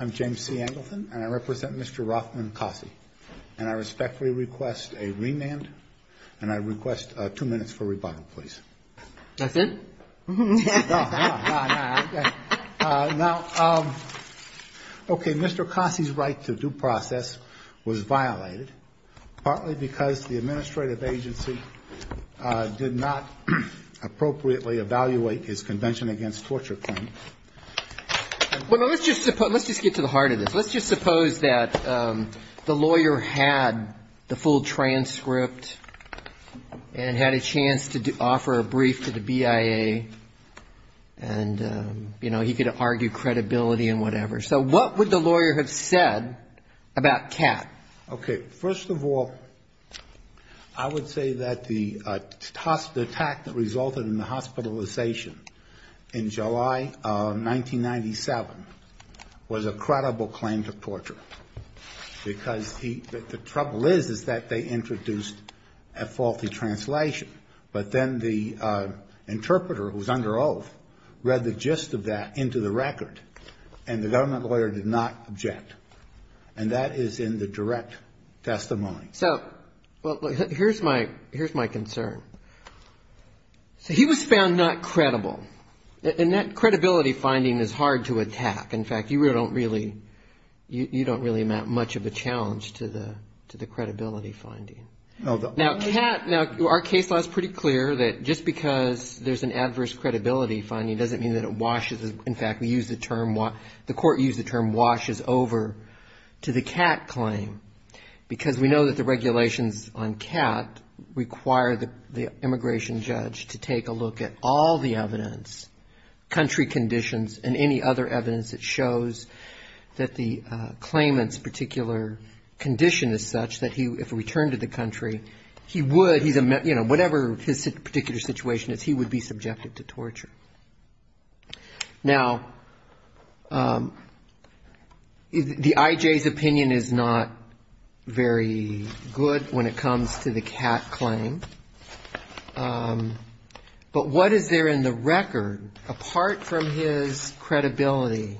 I'm James C. Angleton, and I represent Mr. Rothman Cossie. And I respectfully request a remand, and I request two minutes for rebuttal, please. That's it? No, no, no. Okay. Now, okay, Mr. Cossie's right to due process was violated, partly because the administrative agency did not appropriately evaluate his Convention Against Torture claim. Let's just get to the heart of this. Let's just suppose that the lawyer had the full transcript and had a chance to offer a brief to the BIA, and, you know, he could argue credibility and whatever. So what would the lawyer have said about Kat? Okay. First of all, I would say that the attack that resulted in the hospitalization in July 1997 was a credible claim to torture, because the trouble is, is that they introduced a faulty translation. But then the interpreter who was under oath read the gist of that into the record, and the government lawyer did not object. And that is in the direct testimony. So, well, here's my concern. So he was found not credible. And that credibility finding is hard to attack. In fact, you don't really, you don't really amount much of a challenge to the credibility finding. Now, Kat, now, our case law is pretty clear that just because there's an adverse credibility finding doesn't mean that it washes over to the Kat claim, because we know that the regulations on Kat require the immigration judge to take a look at all the evidence, country conditions and any other evidence that shows that the claimant's particular condition is such that if he returned to the country, he would, you know, whatever his particular situation is, he would be subjected to torture. Now, the I.J.'s opinion is not very good when it comes to the Kat claim. But what is there in the record, apart from his credibility,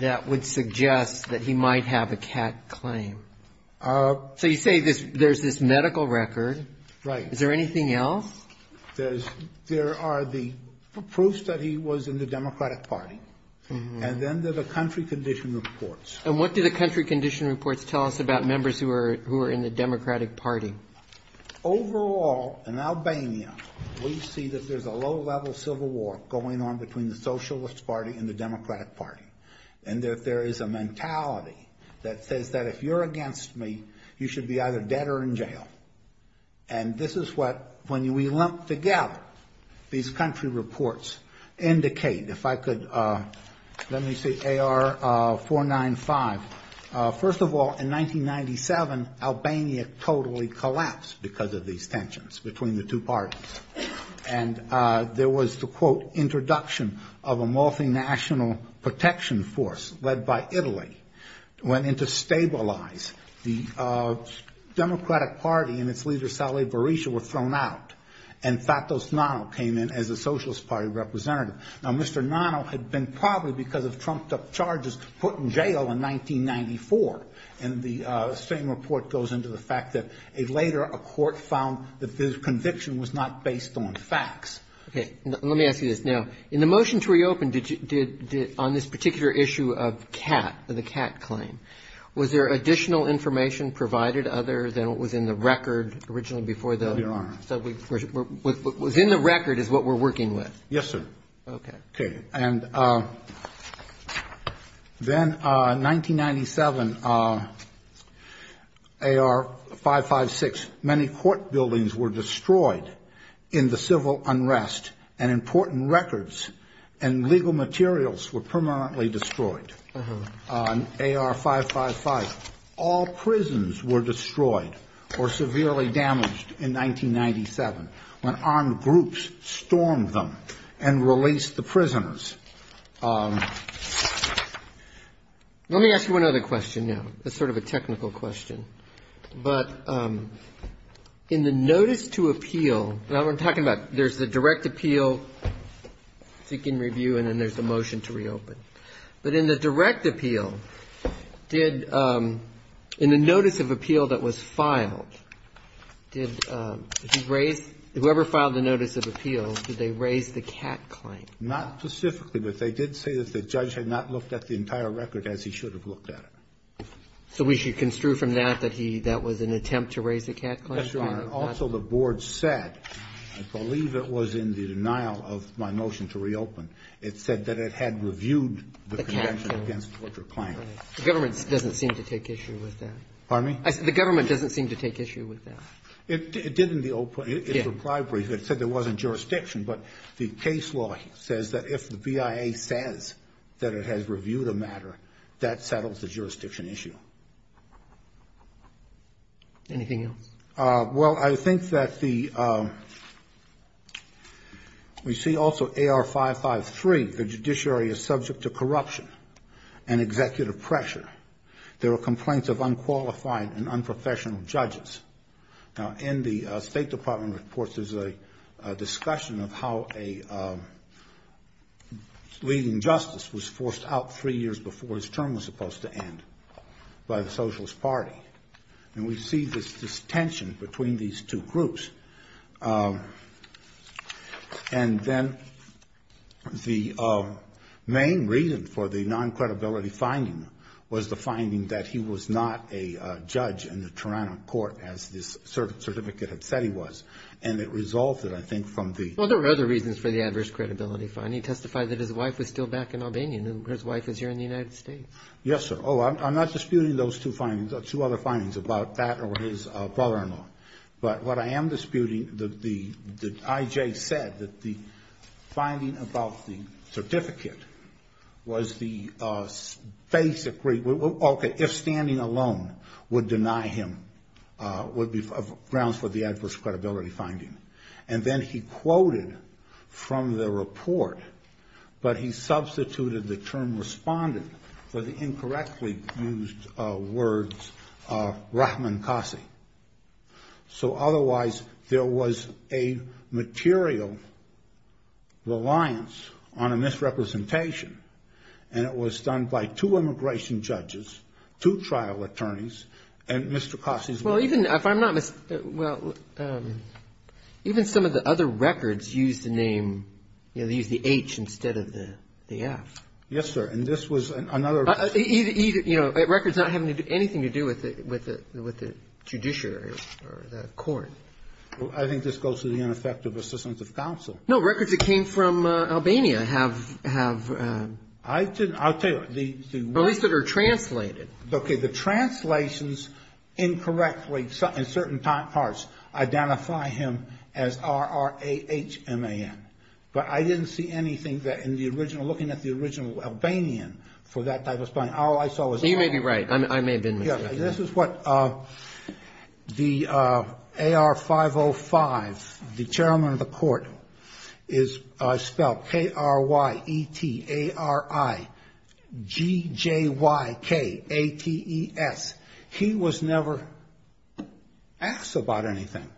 that would suggest that he might have a Kat claim? So you say there's this medical record. Right. Is there anything else? There are the proofs that he was in the Democratic Party, and then there are the country condition reports. And what do the country condition reports tell us about members who are in the Democratic Party? Overall, in Albania, we see that there's a low-level civil war going on between the Socialist Party and the Democratic Party, and that there is a mentality that says that if you're against me, you should be either dead or in jail. And this is what, when we lump together, these country reports indicate. If I could, let me see, AR-495. First of all, in 1997, Albania totally collapsed because of these tensions between the two parties. And there was the, quote, introduction of a multinational protection force led by Italy, went in to stabilize the Democratic Party and its leader, Saleh Berisha, were thrown out. And Fatos Nano came in as a Socialist Party representative. Now, Mr. Nano had been probably, because of trumped-up charges, put in jail in 1994. And the same report goes into the fact that later a court found that this conviction was not based on facts. Okay. Let me ask you this now. In the motion to reopen, did you, on this particular issue of CAT, the CAT claim, was there additional information provided other than what was in the record originally before the? Your Honor. What was in the record is what we're working with. Yes, sir. Okay. Okay. And then 1997, AR-556, many court buildings were destroyed in the civil unrest. And important records and legal materials were permanently destroyed on AR-555. All prisons were destroyed or severely damaged in 1997 when armed groups stormed them and released the prisoners. Let me ask you one other question now. It's sort of a technical question. But in the notice to appeal, now, we're talking about there's the direct appeal, seeking review, and then there's the motion to reopen. But in the direct appeal, did the notice of appeal that was filed, did you raise the whoever filed the notice of appeal, did they raise the CAT claim? Not specifically, but they did say that the judge had not looked at the entire record as he should have looked at it. So we should construe from that that he that was an attempt to raise the CAT claim? Yes, Your Honor. And also the board said, I believe it was in the denial of my motion to reopen, it said that it had reviewed the Convention against Torture Claims. The government doesn't seem to take issue with that. Pardon me? The government doesn't seem to take issue with that. It did in the open. Yes. It said there wasn't jurisdiction. But the case law says that if the BIA says that it has reviewed a matter, that settles the jurisdiction issue. Anything else? Well, I think that the we see also AR 553, the judiciary is subject to corruption and executive pressure. There were complaints of unqualified and unprofessional judges. Now, in the State Department reports, there's a discussion of how a leading justice was forced out three years before his term was supposed to end by the Socialist Party. And we see this tension between these two groups. And then the main reason for the non-credibility finding was the finding that he was not a judge in the Toronto court, as this certificate had said he was. And it resulted, I think, from the… Well, there were other reasons for the adverse credibility finding. It testified that his wife was still back in Albania and his wife was here in the United States. Yes, sir. Oh, I'm not disputing those two findings, two other findings about that or his father-in-law. But what I am disputing, the I.J. said that the finding about the certificate was the basic… Okay, if standing alone would deny him, would be grounds for the adverse credibility finding. And then he quoted from the report, but he substituted the term responded for the incorrectly used words rahman kasi. So otherwise, there was a material reliance on a misrepresentation, and it was done by two immigration judges, two trial attorneys, and Mr. Kasi's wife. Well, even if I'm not… well, even some of the other records use the name, you know, they use the H instead of the F. Yes, sir. And this was another… Well, either, you know, records not having anything to do with the judiciary or the court. I think this goes to the ineffective assistance of counsel. No, records that came from Albania have… I'll tell you… At least that are translated. Okay, the translations incorrectly in certain parts identify him as R-R-A-H-M-A-N. But I didn't see anything that in the original, looking at the original Albanian for that type of… You may be right. I may have been mistaken. This is what the AR-505, the chairman of the court, is spelled K-R-Y-E-T-A-R-I-G-J-Y-K-A-T-E-S. He was never asked about anything.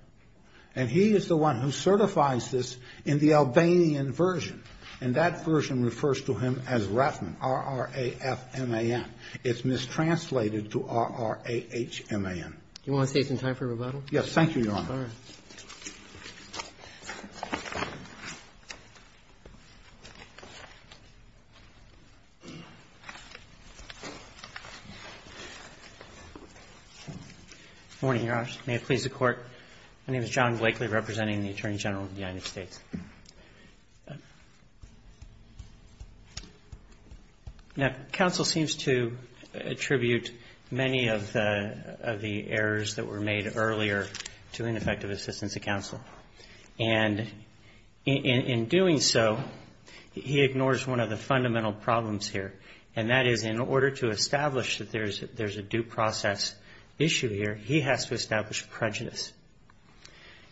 And he is the one who certifies this in the Albanian version. And that version refers to him as Ratman, R-R-A-F-M-A-N. It's mistranslated to R-R-A-H-M-A-N. Do you want to take some time for rebuttal? Thank you, Your Honor. Good morning, Your Honor. May it please the Court. My name is John Blakely, representing the Attorney General of the United States. Now, counsel seems to attribute many of the errors that were made earlier to ineffective assistance of counsel. And in doing so, he ignores one of the fundamental problems here, and that is in order to establish that there's a due process issue here, he has to establish prejudice.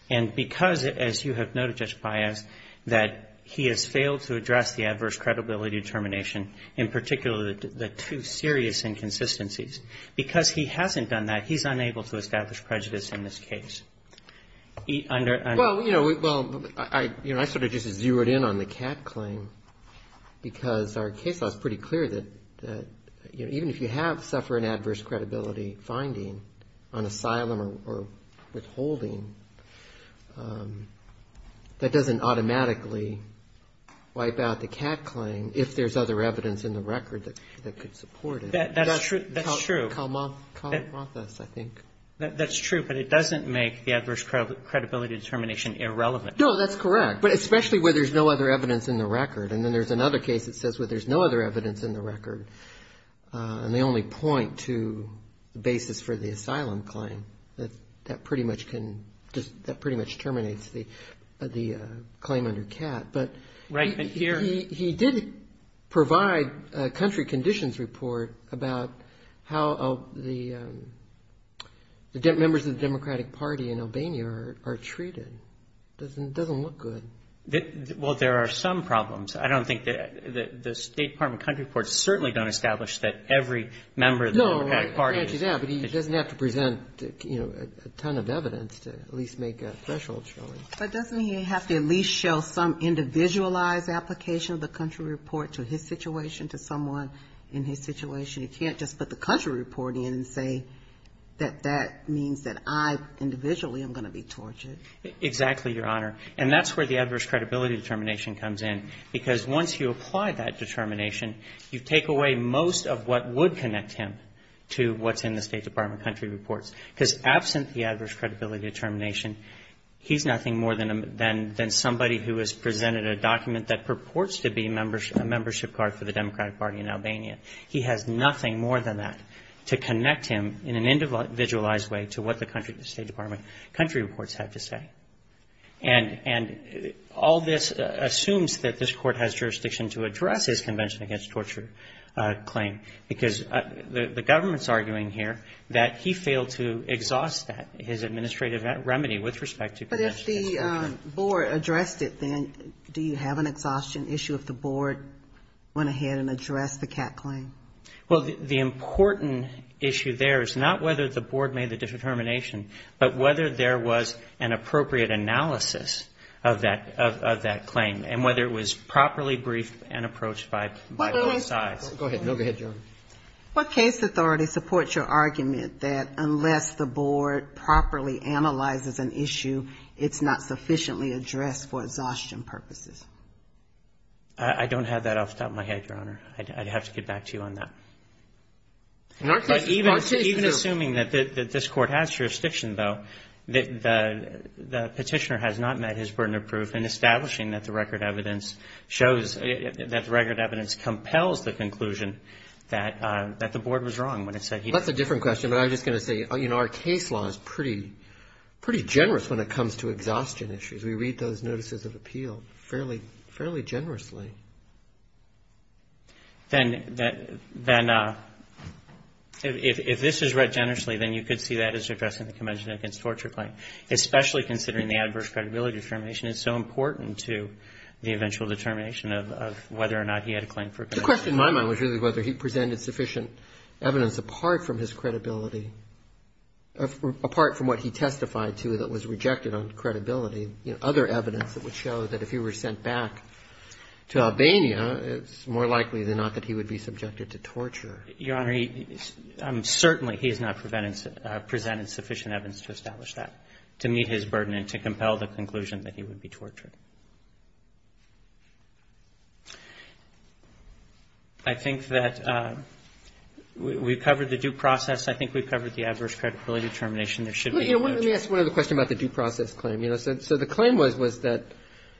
And because, as you have noted, Judge Baez, that he has failed to address the adverse credibility determination, in particular the two serious inconsistencies, because he hasn't done that, he's unable to establish prejudice in this case. Well, you know, I sort of just zeroed in on the Catt claim because our case law is pretty clear that even if you have suffered an adverse credibility finding on asylum or withholding, that doesn't automatically wipe out the Catt claim if there's other evidence in the record that could support it. That's true. That's true. That's true, but it doesn't make the adverse credibility determination irrelevant. No, that's correct, but especially where there's no other evidence in the record. And then there's another case that says where there's no other evidence in the record, and they only point to the basis for the asylum claim. That pretty much can just – that pretty much terminates the claim under Catt. But he did provide a country conditions report about how the members of the Democratic Party in Albania are treated. It doesn't look good. Well, there are some problems. I don't think that the State Department country reports certainly don't establish that every member of the Democratic Party is – No, I grant you that, but he doesn't have to present, you know, a ton of evidence to at least make a threshold showing. But doesn't he have to at least show some individualized application of the country report to his situation, to someone in his situation? He can't just put the country report in and say that that means that I individually am going to be tortured. Exactly, Your Honor. And that's where the adverse credibility determination comes in, because once you apply that determination, you take away most of what would connect him to what's in the State Department country reports. Because absent the adverse credibility determination, he's nothing more than somebody who has presented a document that purports to be a membership card for the Democratic Party in Albania. He has nothing more than that to connect him in an individualized way to what the country State Department country reports have to say. And all this assumes that this Court has jurisdiction to address his Convention Against Torture claim, because the government's arguing here that he failed to exhaust that, his administrative remedy with respect to Convention Against Torture. When the board addressed it, then, do you have an exhaustion issue if the board went ahead and addressed the CAC claim? Well, the important issue there is not whether the board made the determination, but whether there was an appropriate analysis of that claim, and whether it was properly briefed and approached by both sides. Go ahead. Go ahead, Your Honor. What case authority supports your argument that unless the board properly analyzes an issue, it's not sufficiently addressed for exhaustion purposes? I don't have that off the top of my head, Your Honor. I'd have to get back to you on that. But even assuming that this Court has jurisdiction, though, the petitioner has not met his burden of proof in establishing that the record evidence shows that the record evidence compels the conclusion that the board was wrong when it said he did. That's a different question, but I'm just going to say, you know, our case law is pretty generous when it comes to exhaustion issues. We read those notices of appeal fairly generously. Then, if this is read generously, then you could see that as addressing the Convention Against Torture claim, especially considering the adverse credibility determination is so important to the eventual determination of whether or not he had a claim for a conviction. The question in my mind was really whether he presented sufficient evidence apart from his credibility, apart from what he testified to that was rejected on credibility, other evidence that would show that if he were sent back to Albania, it's more likely than not that he would be subjected to torture. Your Honor, certainly he has not presented sufficient evidence to establish that, to meet his burden and to compel the conclusion that he would be tortured. I think that we've covered the due process. I think we've covered the adverse credibility determination. There should be no doubt. Let me ask one other question about the due process claim. The claim was that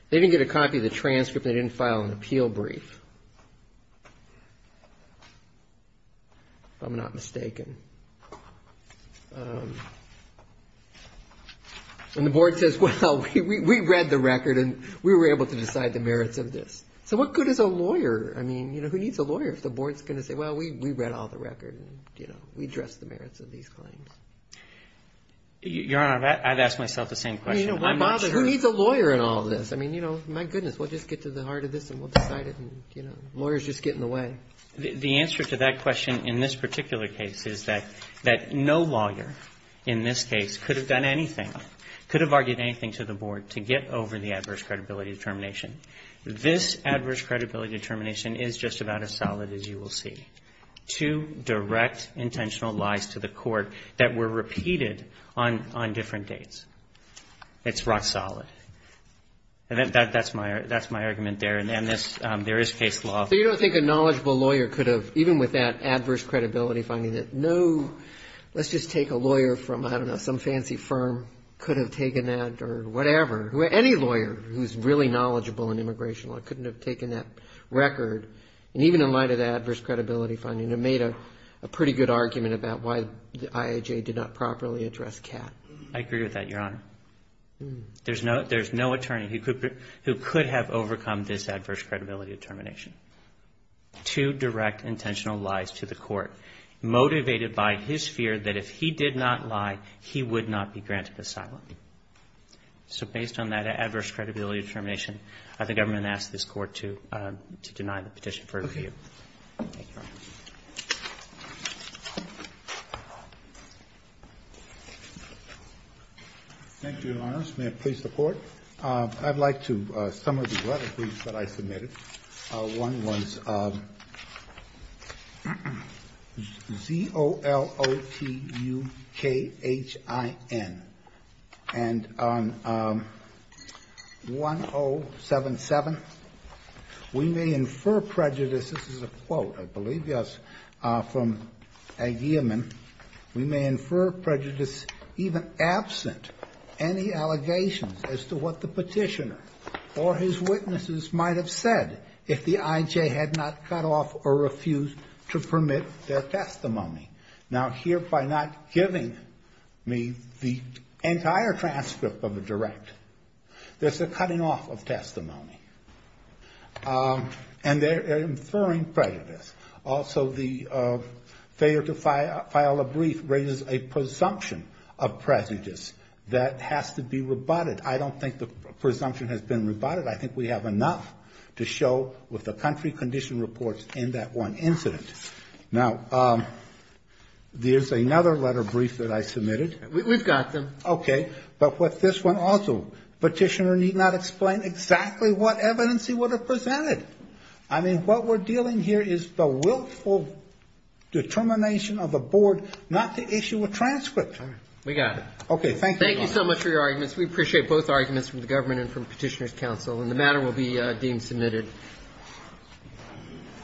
they didn't get a copy of the transcript. They didn't file an appeal brief, if I'm not mistaken. The board says, well, we read the record, and we were able to decide the merits of this. What good is a lawyer? Who needs a lawyer if the board is going to say, well, we read all the records, and we addressed the merits of these claims? Your Honor, I've asked myself the same question. Why bother? Who needs a lawyer in all this? I mean, you know, my goodness, we'll just get to the heart of this, and we'll decide it. Lawyers just get in the way. The answer to that question in this particular case is that no lawyer in this case could have done anything, could have argued anything to the board to get over the adverse credibility determination. This adverse credibility determination is just about as solid as you will see. Two direct intentional lies to the court that were repeated on different dates. It's rock solid. And that's my argument there, and there is case law. So you don't think a knowledgeable lawyer could have, even with that adverse credibility finding, that no, let's just take a lawyer from, I don't know, some fancy firm could have taken that or whatever. Any lawyer who's really knowledgeable in immigration law couldn't have taken that record. And even in light of the adverse credibility finding, it made a pretty good argument about why the IAJ did not properly address Catt. I agree with that, Your Honor. There's no attorney who could have overcome this adverse credibility determination. Two direct intentional lies to the court motivated by his fear that if he did not lie, he would not be granted asylum. So based on that adverse credibility determination, I think I'm going to ask this Court to deny the petition for review. Okay. Thank you, Your Honor. Thank you, Your Honor. May it please the Court. I'd like to sum up the letter that I submitted. One was Z-O-L-O-T-U-K-H-I-N. And on 1077, we may infer prejudice. This is a quote, I believe, yes, from Aguirreman. We may infer prejudice even absent any allegations as to what the petitioner or his witnesses might have said if the IJ had not cut off or refused to permit their testimony. Now, here, by not giving me the entire transcript of the direct, there's a cutting off of testimony. And they're inferring prejudice. Also, the failure to file a brief raises a presumption of prejudice that has to be rebutted. I don't think the presumption has been rebutted. I think we have enough to show with the country condition reports in that one incident. Now, there's another letter brief that I submitted. We've got them. Okay. But with this one also, petitioner need not explain exactly what evidence he would have presented. I mean, what we're dealing here is the willful determination of the board not to issue a transcript. We got it. Okay. Thank you. Thank you so much for your arguments. We appreciate both arguments from the government and from Petitioner's Council. And the matter will be deemed submitted.